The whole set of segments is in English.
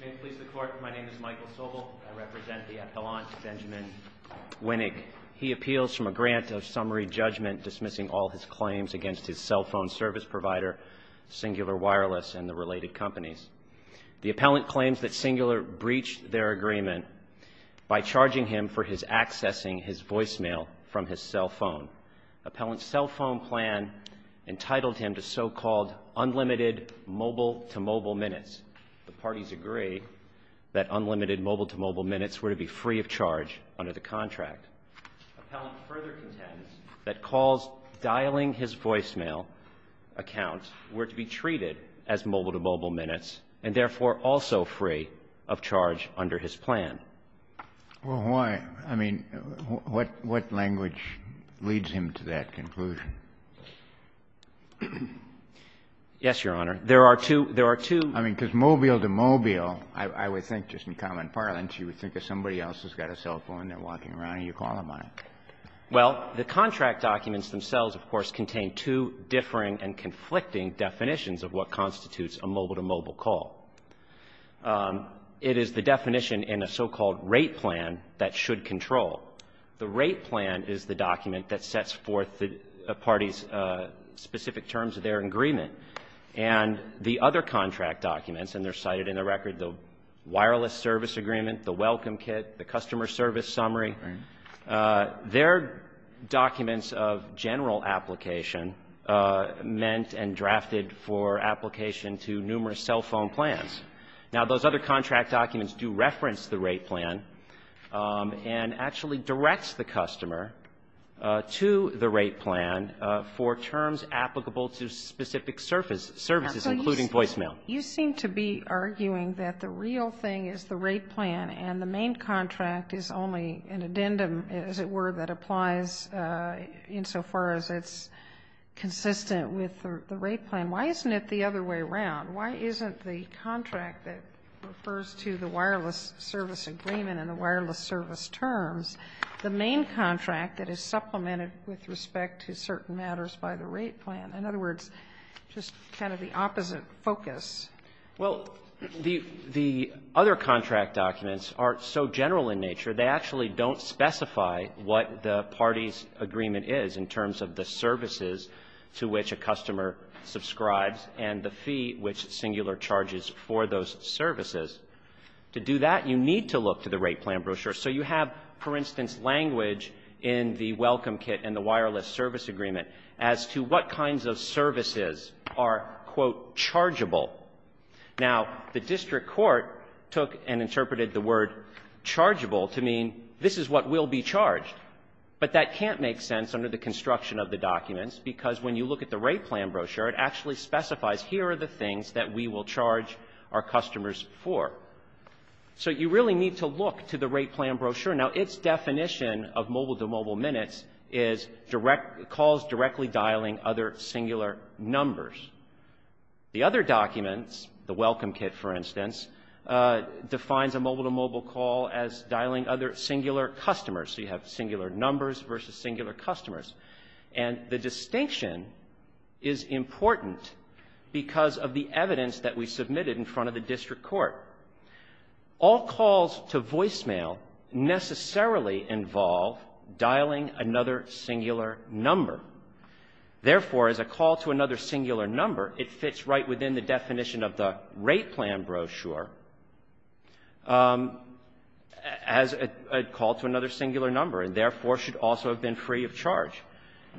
May it please the Court, my name is Michael Sobel. I represent the appellant, Benjamin Winig. He appeals from a grant of summary judgment dismissing all his claims against his cell phone service provider, Cingular Wireless and the related companies. The appellant claims that Cingular breached their agreement by charging him for his accessing his voicemail from his cell phone. Appellant's cell phone plan entitled him to so-called unlimited mobile-to-mobile minutes. The parties agree that unlimited mobile-to-mobile minutes were to be free of charge under the contract. Appellant further contends that calls dialing his voicemail account were to be treated as mobile-to-mobile minutes and, therefore, also free of charge under his plan. Well, why? I mean, what language leads him to that conclusion? Yes, Your Honor. There are two, there are two. I mean, because mobile-to-mobile, I would think, just in common parlance, you would think of somebody else who's got a cell phone and they're walking around and you call them on it. Well, the contract documents themselves, of course, contain two differing and conflicting definitions of what constitutes a mobile-to-mobile call. It is the definition in a so-called rate plan that should control. The rate plan is the document that sets forth the parties' specific terms of their agreement. And the other contract documents, and they're cited in the record, the wireless service agreement, the welcome kit, the customer service summary, they're documents of general application meant and drafted for application to numerous cell phone plans. Now, those other contract documents do reference the rate plan and actually directs the customer to the rate plan for terms applicable to specific services, including voicemail. You seem to be arguing that the real thing is the rate plan and the main contract is only an addendum, as it were, that applies insofar as it's consistent with the rate plan. Why isn't it the other way around? Why isn't the contract that refers to the wireless service agreement and the wireless service terms the main contract that is supplemented with respect to certain matters by the rate plan? In other words, just kind of the opposite focus. Well, the other contract documents are so general in nature, they actually don't in terms of the services to which a customer subscribes and the fee which singular charges for those services. To do that, you need to look to the rate plan brochure. So you have, for instance, language in the welcome kit and the wireless service agreement as to what kinds of services are, quote, chargeable. Now, the district court took and interpreted the word chargeable to mean this is what will be charged. But that can't make sense under the construction of the documents because when you look at the rate plan brochure, it actually specifies here are the things that we will charge our customers for. So you really need to look to the rate plan brochure. Now, its definition of mobile-to-mobile minutes is calls directly dialing other singular numbers. The other documents, the welcome kit, for instance, defines a mobile-to-mobile call as dialing other singular customers. So you have singular numbers versus singular customers. And the distinction is important because of the evidence that we submitted in front of the district court. All calls to voicemail necessarily involve dialing another singular number. Therefore, as a call to another singular number, it fits right within the definition of the rate plan brochure as a call to another singular number, and therefore should also have been free of charge.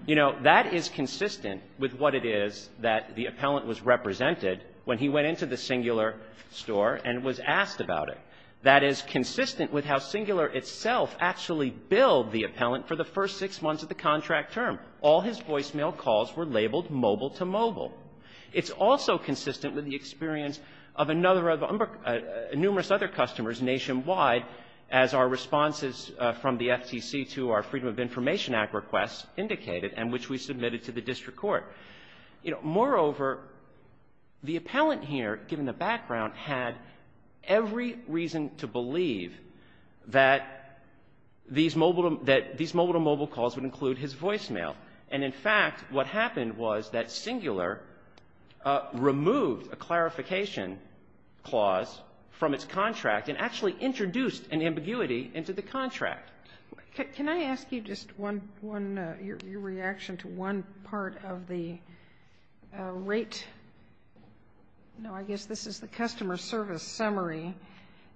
You know, that is consistent with what it is that the appellant was represented when he went into the singular store and was asked about it. That is consistent with how Singular itself actually billed the appellant for the first six months of the contract term. All his voicemail calls were labeled mobile-to-mobile. It's also consistent with the experience of numerous other customers nationwide as our responses from the FTC to our Freedom of Information Act requests indicated and which we submitted to the district court. You know, moreover, the appellant here, given the background, had every reason to believe that these mobile-to-mobile calls would include his voicemail. And in fact, what happened was that Singular removed a clarification clause from its contract and actually introduced an ambiguity into the contract. Can I ask you just one, your reaction to one part of the rate? No, I guess this is the customer service summary.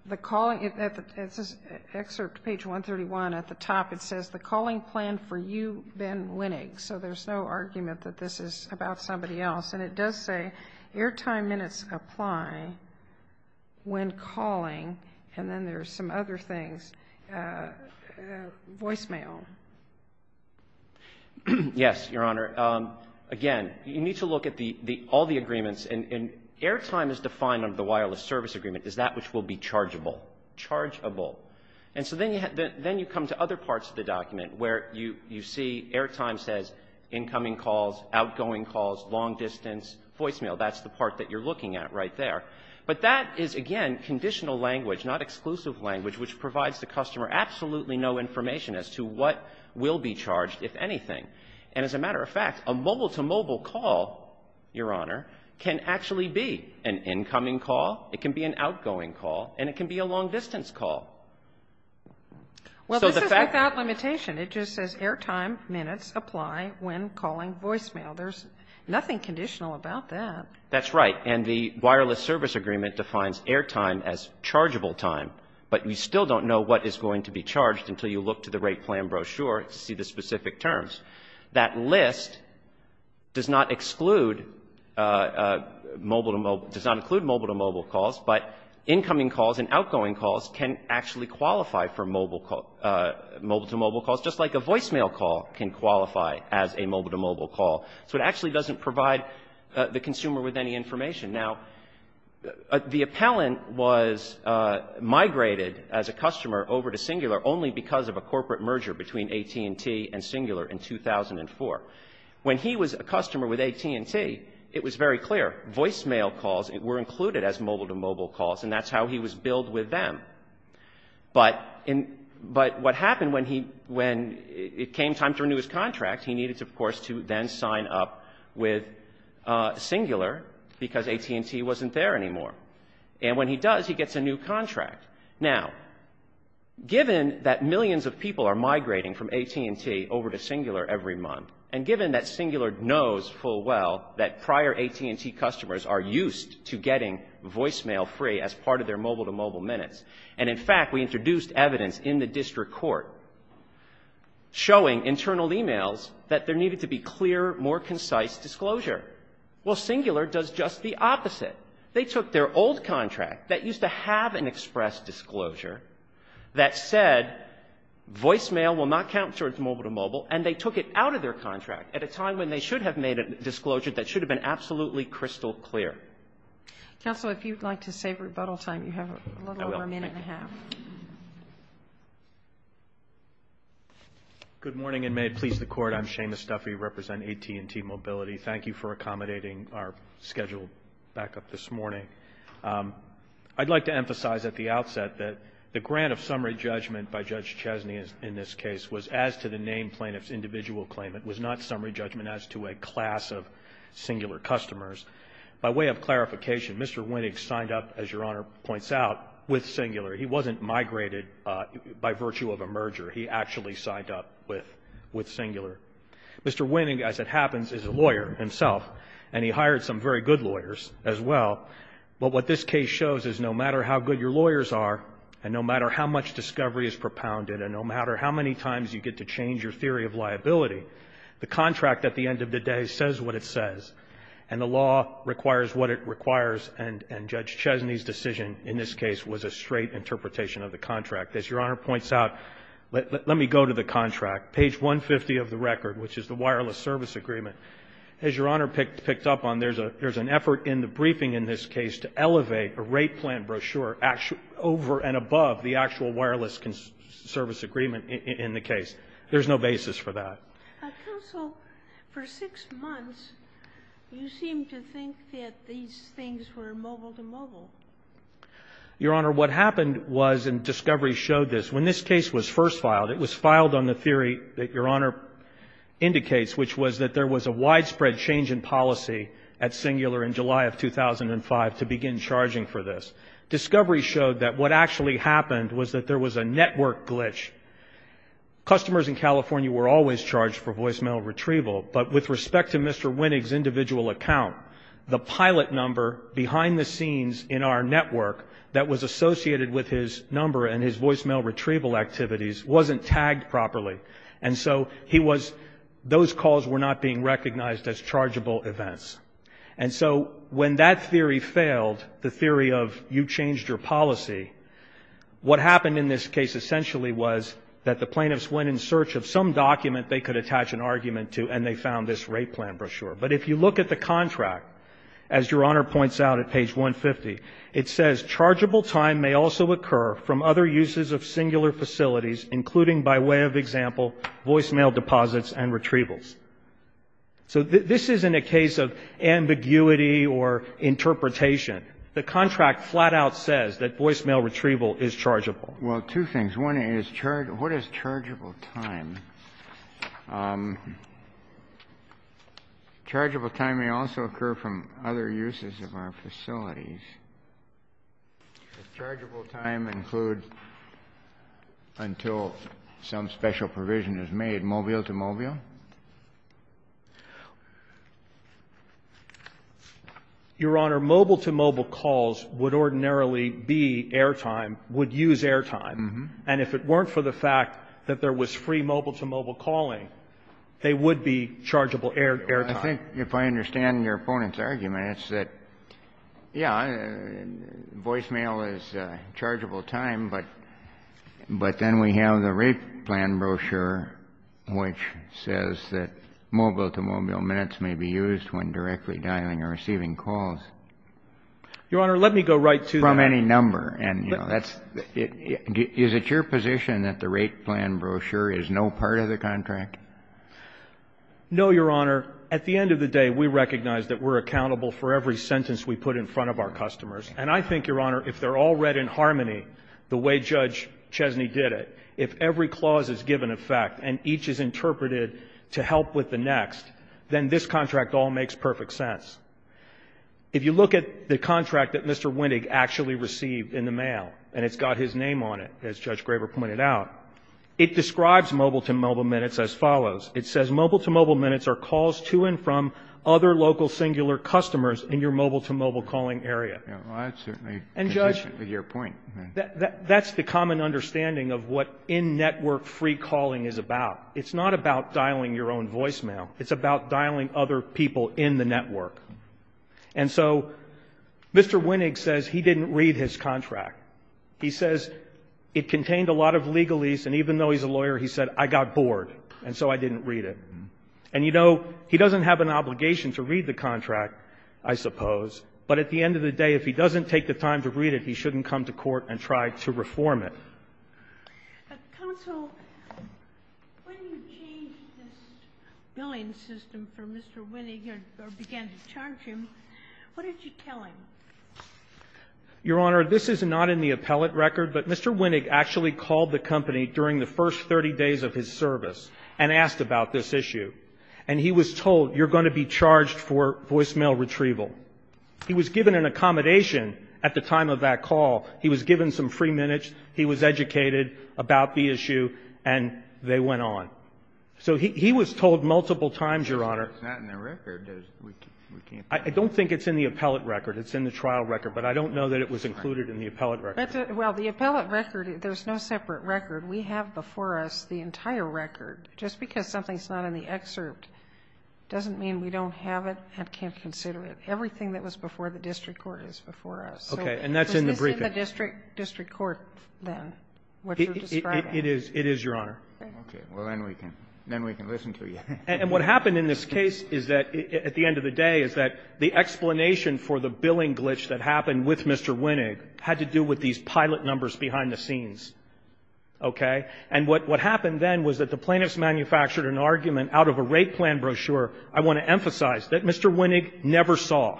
The calling, it says, excerpt page 131 at the top, it says, the calling plan for you, Ben Winnig. So there's no argument that this is about somebody else. And it does say, airtime minutes apply when calling. And then there's some other things. Voicemail. Yes, Your Honor. Again, you need to look at all the agreements. And airtime is defined under the wireless service agreement as that which will be chargeable. Chargeable. And so then you come to other parts of the document where you see airtime says incoming calls, outgoing calls, long-distance, voicemail. That's the part that you're looking at right there. But that is, again, conditional language, not exclusive language, which provides the customer absolutely no information as to what will be charged, if anything. And as a matter of fact, a mobile-to-mobile call, Your Honor, can actually be an incoming call, it can be an outgoing call, and it can be a long-distance call. Well, this is without limitation. It just says airtime minutes apply when calling voicemail. There's nothing conditional about that. That's right. And the wireless service agreement defines airtime as chargeable time. But you still don't know what is going to be charged until you look to the rate plan brochure to see the specific terms. That list does not exclude mobile-to-mobile, does not include mobile-to-mobile calls, but incoming calls and outgoing calls actually qualify for mobile-to-mobile calls, just like a voicemail call can qualify as a mobile-to-mobile call. So it actually doesn't provide the consumer with any information. Now, the appellant was migrated as a customer over to Singular only because of a corporate merger between AT&T and Singular in 2004. When he was a customer with AT&T, it was very clear. Voicemail calls were included as mobile-to-mobile calls, and that's how he was filled with them. But what happened when it came time to renew his contract, he needed, of course, to then sign up with Singular because AT&T wasn't there anymore. And when he does, he gets a new contract. Now, given that millions of people are migrating from AT&T over to Singular every month, and given that Singular knows full well that prior AT&T customers are used to getting voicemail free as part of their mobile-to-mobile minutes, and in fact, we introduced evidence in the district court showing internal e-mails that there needed to be clear, more concise disclosure. Well, Singular does just the opposite. They took their old contract that used to have an express disclosure that said voicemail will not count towards mobile-to-mobile, and they took it out of their contract at a time when they should have made a disclosure that should have been absolutely crystal clear. Counsel, if you'd like to save rebuttal time, you have a little over a minute and a half. I will. Thank you. Good morning, and may it please the Court. I'm Seamus Duffy. I represent AT&T Mobility. Thank you for accommodating our schedule back up this morning. I'd like to emphasize at the outset that the grant of summary judgment by Judge Chesney in this case was as to the named plaintiff's individual claim. It was not By way of clarification, Mr. Winning signed up, as Your Honor points out, with Singular. He wasn't migrated by virtue of a merger. He actually signed up with Singular. Mr. Winning, as it happens, is a lawyer himself, and he hired some very good lawyers as well. But what this case shows is no matter how good your lawyers are, and no matter how much discovery is propounded, and no matter how many times you get to change your theory of liability, the contract at the end of the day says what it says. And the law requires what it requires, and Judge Chesney's decision in this case was a straight interpretation of the contract. As Your Honor points out, let me go to the contract, page 150 of the record, which is the wireless service agreement. As Your Honor picked up on, there's an effort in the briefing in this case to elevate a rate plan brochure over and above the actual wireless service agreement in the case. There's no basis for that. Counsel, for six months, you seemed to think that these things were mobile-to-mobile. Your Honor, what happened was, and discovery showed this, when this case was first filed, it was filed on the theory that Your Honor indicates, which was that there was a widespread change in policy at Singular in July of 2005 to begin charging for this. Discovery showed that what actually happened was that there was a network glitch. Customers in California were always charged for voicemail retrieval, but with respect to Mr. Winnig's individual account, the pilot number behind the scenes in our network that was associated with his number and his voicemail retrieval activities wasn't tagged properly. And so he was, those calls were not being recognized as chargeable events. And so when that theory failed, the theory of you changed your policy, what happened in this case essentially was that the plaintiffs went in search of some document they could attach an argument to, and they found this rate plan brochure. But if you look at the contract, as Your Honor points out at page 150, it says, chargeable time may also occur from other uses of Singular facilities, including, by way of example, voicemail deposits and retrievals. So this isn't a case of ambiguity or interpretation. The contract flat out says that voicemail retrieval is chargeable. Well, two things. One is, what is chargeable time? Chargeable time may also occur from other uses of our facilities. Does chargeable time include until some special provision is made, mobile-to-mobile? Your Honor, mobile-to-mobile calls would ordinarily be airtime, would use airtime. And if it weren't for the fact that there was free mobile-to-mobile calling, they would be chargeable airtime. I think if I understand your opponent's argument, it's that, yeah, voicemail is chargeable time, but then we have the rate plan brochure, which says that mobile-to-mobile minutes may be used when directly dialing or receiving calls. Your Honor, let me go right to that. From any number. And, you know, that's — is it your position that the rate plan brochure is no part of the contract? No, Your Honor. At the end of the day, we recognize that we're accountable for every sentence we put in front of our customers. And I think, Your Honor, if they're all read in harmony the way Judge Chesney did it, if every clause is given effect and each is interpreted to help with the next, then this contract all makes perfect sense. If you look at the contract that Mr. Winnig actually received in the mail, and it's got his name on it, as Judge Graber pointed out, it describes mobile-to-mobile minutes as follows. It says mobile-to-mobile minutes are calls to and from other local singular customers in your mobile-to-mobile calling area. Well, that's certainly consistent with your point. And, Judge, that's the common understanding of what in-network free calling is about. It's not about dialing your own voicemail. It's about dialing other people in the network. And so Mr. Winnig says he didn't read his contract. He says it contained a lot of legalese, and even though he's a lawyer, he said, I got bored, and so I didn't read it. And, you know, he doesn't have an obligation to read the contract, I suppose, but at the end of the day, if he doesn't take the time to read it, he shouldn't come to court and try to reform it. But, counsel, when you changed this billing system for Mr. Winnig or began to charge him, what did you tell him? Your Honor, this is not in the appellate record, but Mr. Winnig actually called the company during the first 30 days of his service and asked about this issue. And he was told, you're going to be charged for voicemail retrieval. He was given an accommodation at the time of that call. He was given some free minutes. He was educated about the issue, and they went on. So he was told multiple times, Your Honor. It's not in the record. I don't think it's in the appellate record. It's in the trial record. But I don't know that it was included in the appellate record. Well, the appellate record, there's no separate record. We have before us the entire record. Just because something's not in the excerpt doesn't mean we don't have it and can't consider it. Everything that was before the district court is before us. So it's in the district court then, what you're describing. It is, Your Honor. Okay. Well, then we can listen to you. And what happened in this case is that, at the end of the day, is that the explanation for the billing glitch that happened with Mr. Winnig had to do with these pilot numbers behind the scenes. Okay? And what happened then was that the plaintiffs manufactured an argument out of a rate plan brochure, I want to emphasize, that Mr. Winnig never saw.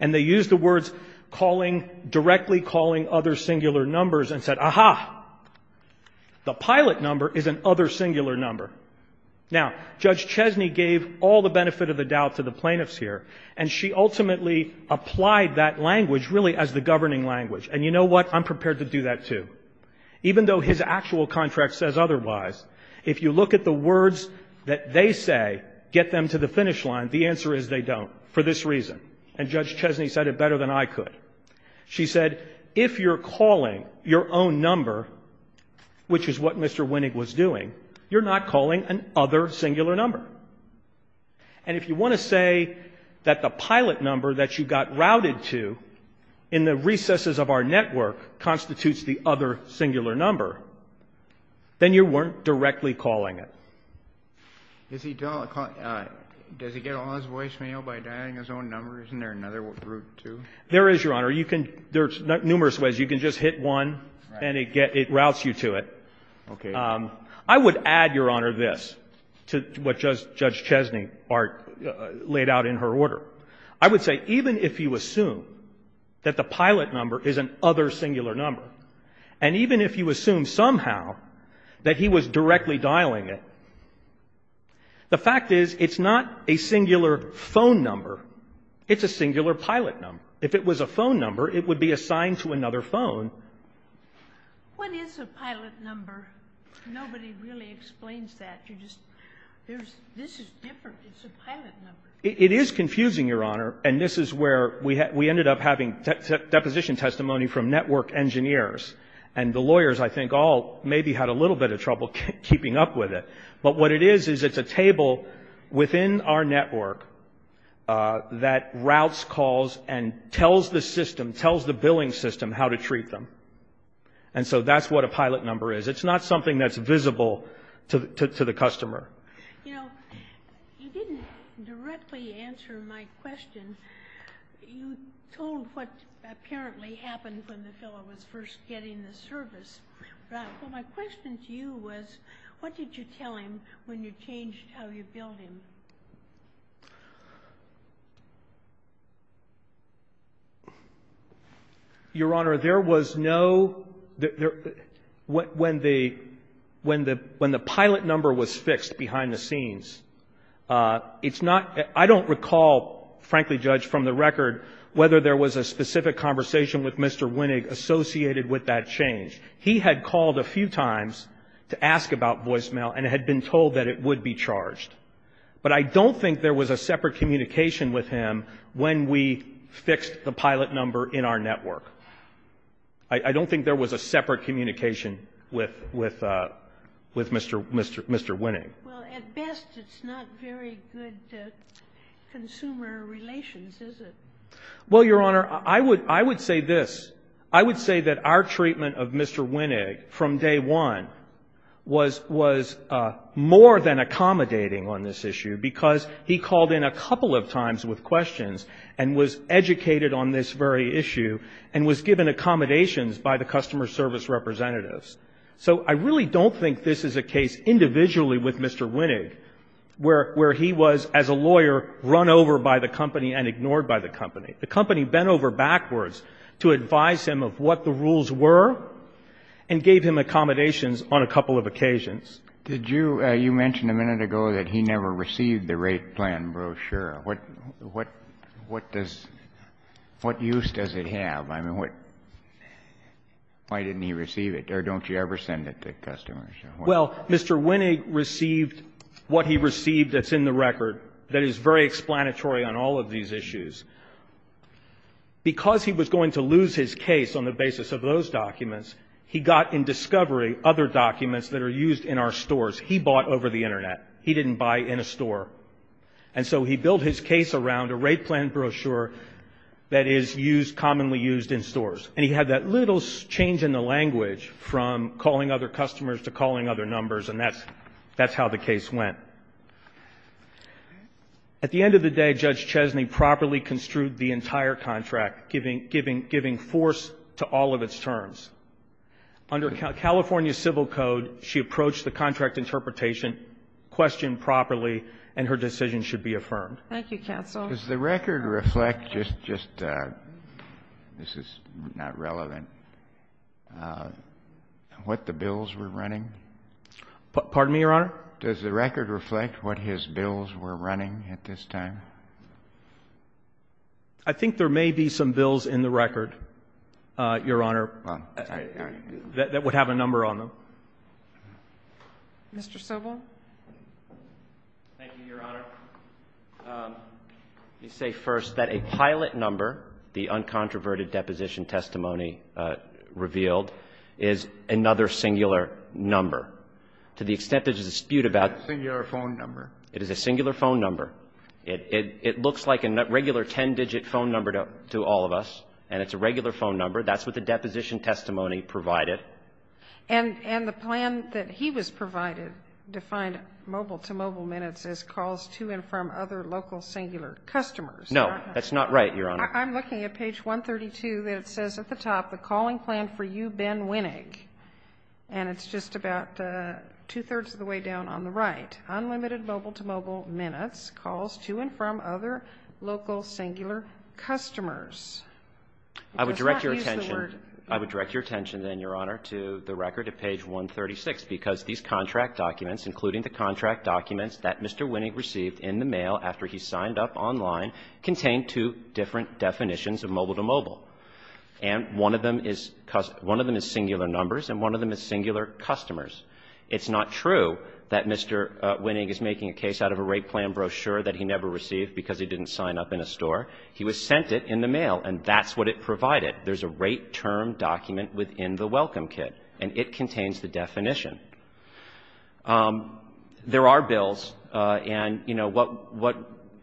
And they used the words calling, directly calling other singular numbers and said, Aha! The pilot number is an other singular number. Now, Judge Chesney gave all the benefit of the doubt to the plaintiffs here. And she ultimately applied that language really as the governing language. And you know what? I'm prepared to do that, too. Even though his actual contract says otherwise, if you look at the words that they say, get them to the finish line, the answer is they don't, for this reason. And Judge Chesney said it better than I could. She said, if you're calling your own number, which is what Mr. Winnig was doing, you're not calling an other singular number. And if you want to say that the pilot number that you got routed to in the recesses of our network constitutes the other singular number, then you weren't directly calling it. Does he get all his voicemail by adding his own number? Isn't there another route, too? There is, Your Honor. There are numerous ways. You can just hit one and it routes you to it. Okay. I would add, Your Honor, this to what Judge Chesney laid out in her order. I would say even if you assume that the pilot number is an other singular number, and even if you assume somehow that he was directly dialing it, the fact is it's not a singular phone number. It's a singular pilot number. If it was a phone number, it would be assigned to another phone. What is a pilot number? Nobody really explains that. This is different. It's a pilot number. It is confusing, Your Honor. And this is where we ended up having deposition testimony from network engineers. And the lawyers, I think, all maybe had a little bit of trouble keeping up with it. But what it is is it's a table within our network that routes calls and tells the system, tells the billing system how to treat them. And so that's what a pilot number is. It's not something that's visible to the customer. You know, you didn't directly answer my question. You told what apparently happened when the fellow was first getting the service. My question to you was what did you tell him when you changed how you billed him? Your Honor, there was no ñ when the pilot number was fixed behind the scenes, it's not ñ I don't recall, frankly, Judge, from the record, whether there was a specific conversation with Mr. Winnig associated with that change. He had called a few times to ask about voicemail and had been told that it would be charged. But I don't think there was a separate communication with him when we fixed the pilot number in our network. I don't think there was a separate communication with Mr. Winnig. Well, at best, it's not very good consumer relations, is it? Well, Your Honor, I would say this. I would say that our treatment of Mr. Winnig from day one was more than accommodating on this issue, because he called in a couple of times with questions and was educated on this very issue and was given accommodations by the customer service representatives. So I really don't think this is a case individually with Mr. Winnig where he was, as a lawyer, run over by the company and ignored by the company. The company bent over backwards to advise him of what the rules were and gave him accommodations on a couple of occasions. Did you – you mentioned a minute ago that he never received the rate plan brochure. What – what does – what use does it have? I mean, what – why didn't he receive it? Or don't you ever send it to customers? Well, Mr. Winnig received what he received that's in the record that is very explanatory on all of these issues. Because he was going to lose his case on the basis of those documents, he got in discovery other documents that are used in our stores. He bought over the Internet. He didn't buy in a store. And so he built his case around a rate plan brochure that is used – commonly used in stores. And he had that little change in the language from calling other customers to calling other numbers, and that's – that's how the case went. At the end of the day, Judge Chesney properly construed the entire contract, giving – giving force to all of its terms. Under California civil code, she approached the contract interpretation question properly, and her decision should be affirmed. Thank you, counsel. Does the record reflect just – just – this is not relevant – what the bills were running? Pardon me, Your Honor? Does the record reflect what his bills were running at this time? I think there may be some bills in the record, Your Honor. That would have a number on them. Mr. Sobel. Thank you, Your Honor. Let me say first that a pilot number, the uncontroverted deposition testimony revealed, is another singular number. To the extent there's a dispute about the singular phone number, it is a singular phone number. It looks like a regular 10-digit phone number to all of us, and it's a regular phone number. That's what the deposition testimony provided. And the plan that he was provided defined mobile-to-mobile minutes as calls to and from other local singular customers. No. That's not right, Your Honor. I'm looking at page 132, and it says at the top, the calling plan for you, Ben Winnig. And it's just about two-thirds of the way down on the right. Unlimited mobile-to-mobile minutes calls to and from other local singular customers. It does not use the word. I would direct your attention then, Your Honor, to the record at page 136, because these contract documents, including the contract documents that Mr. Winnig received in the mail after he signed up online, contained two different definitions of mobile-to-mobile. And one of them is singular numbers, and one of them is singular customers. It's not true that Mr. Winnig is making a case out of a rate plan brochure that he never received because he didn't sign up in a store. He was sent it in the mail, and that's what it provided. There's a rate term document within the welcome kit, and it contains the definition. There are bills, and, you know, what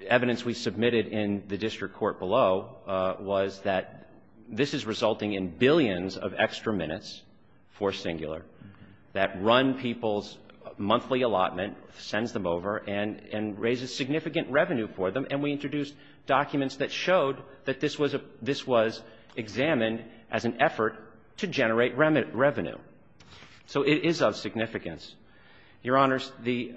evidence we submitted in the district court below was that this is resulting in billions of extra minutes for singular that run people's monthly allotment, sends them over, and raises significant revenue for them, and we introduced documents that showed that this was a – this was examined as an effort to generate revenue. So it is of significance. Your Honors, the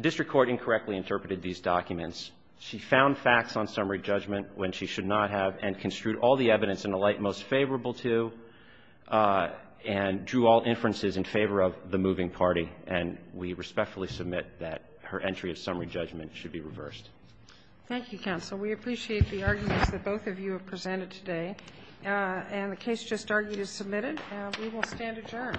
district court incorrectly interpreted these documents. She found facts on summary judgment when she should not have, and construed all the evidence in the light most favorable to, and drew all inferences in favor of the moving party, and we respectfully submit that her entry of summary judgment should be reversed. Thank you, counsel. We appreciate the arguments that both of you have presented today. And the case just argued is submitted, and we will stand adjourned.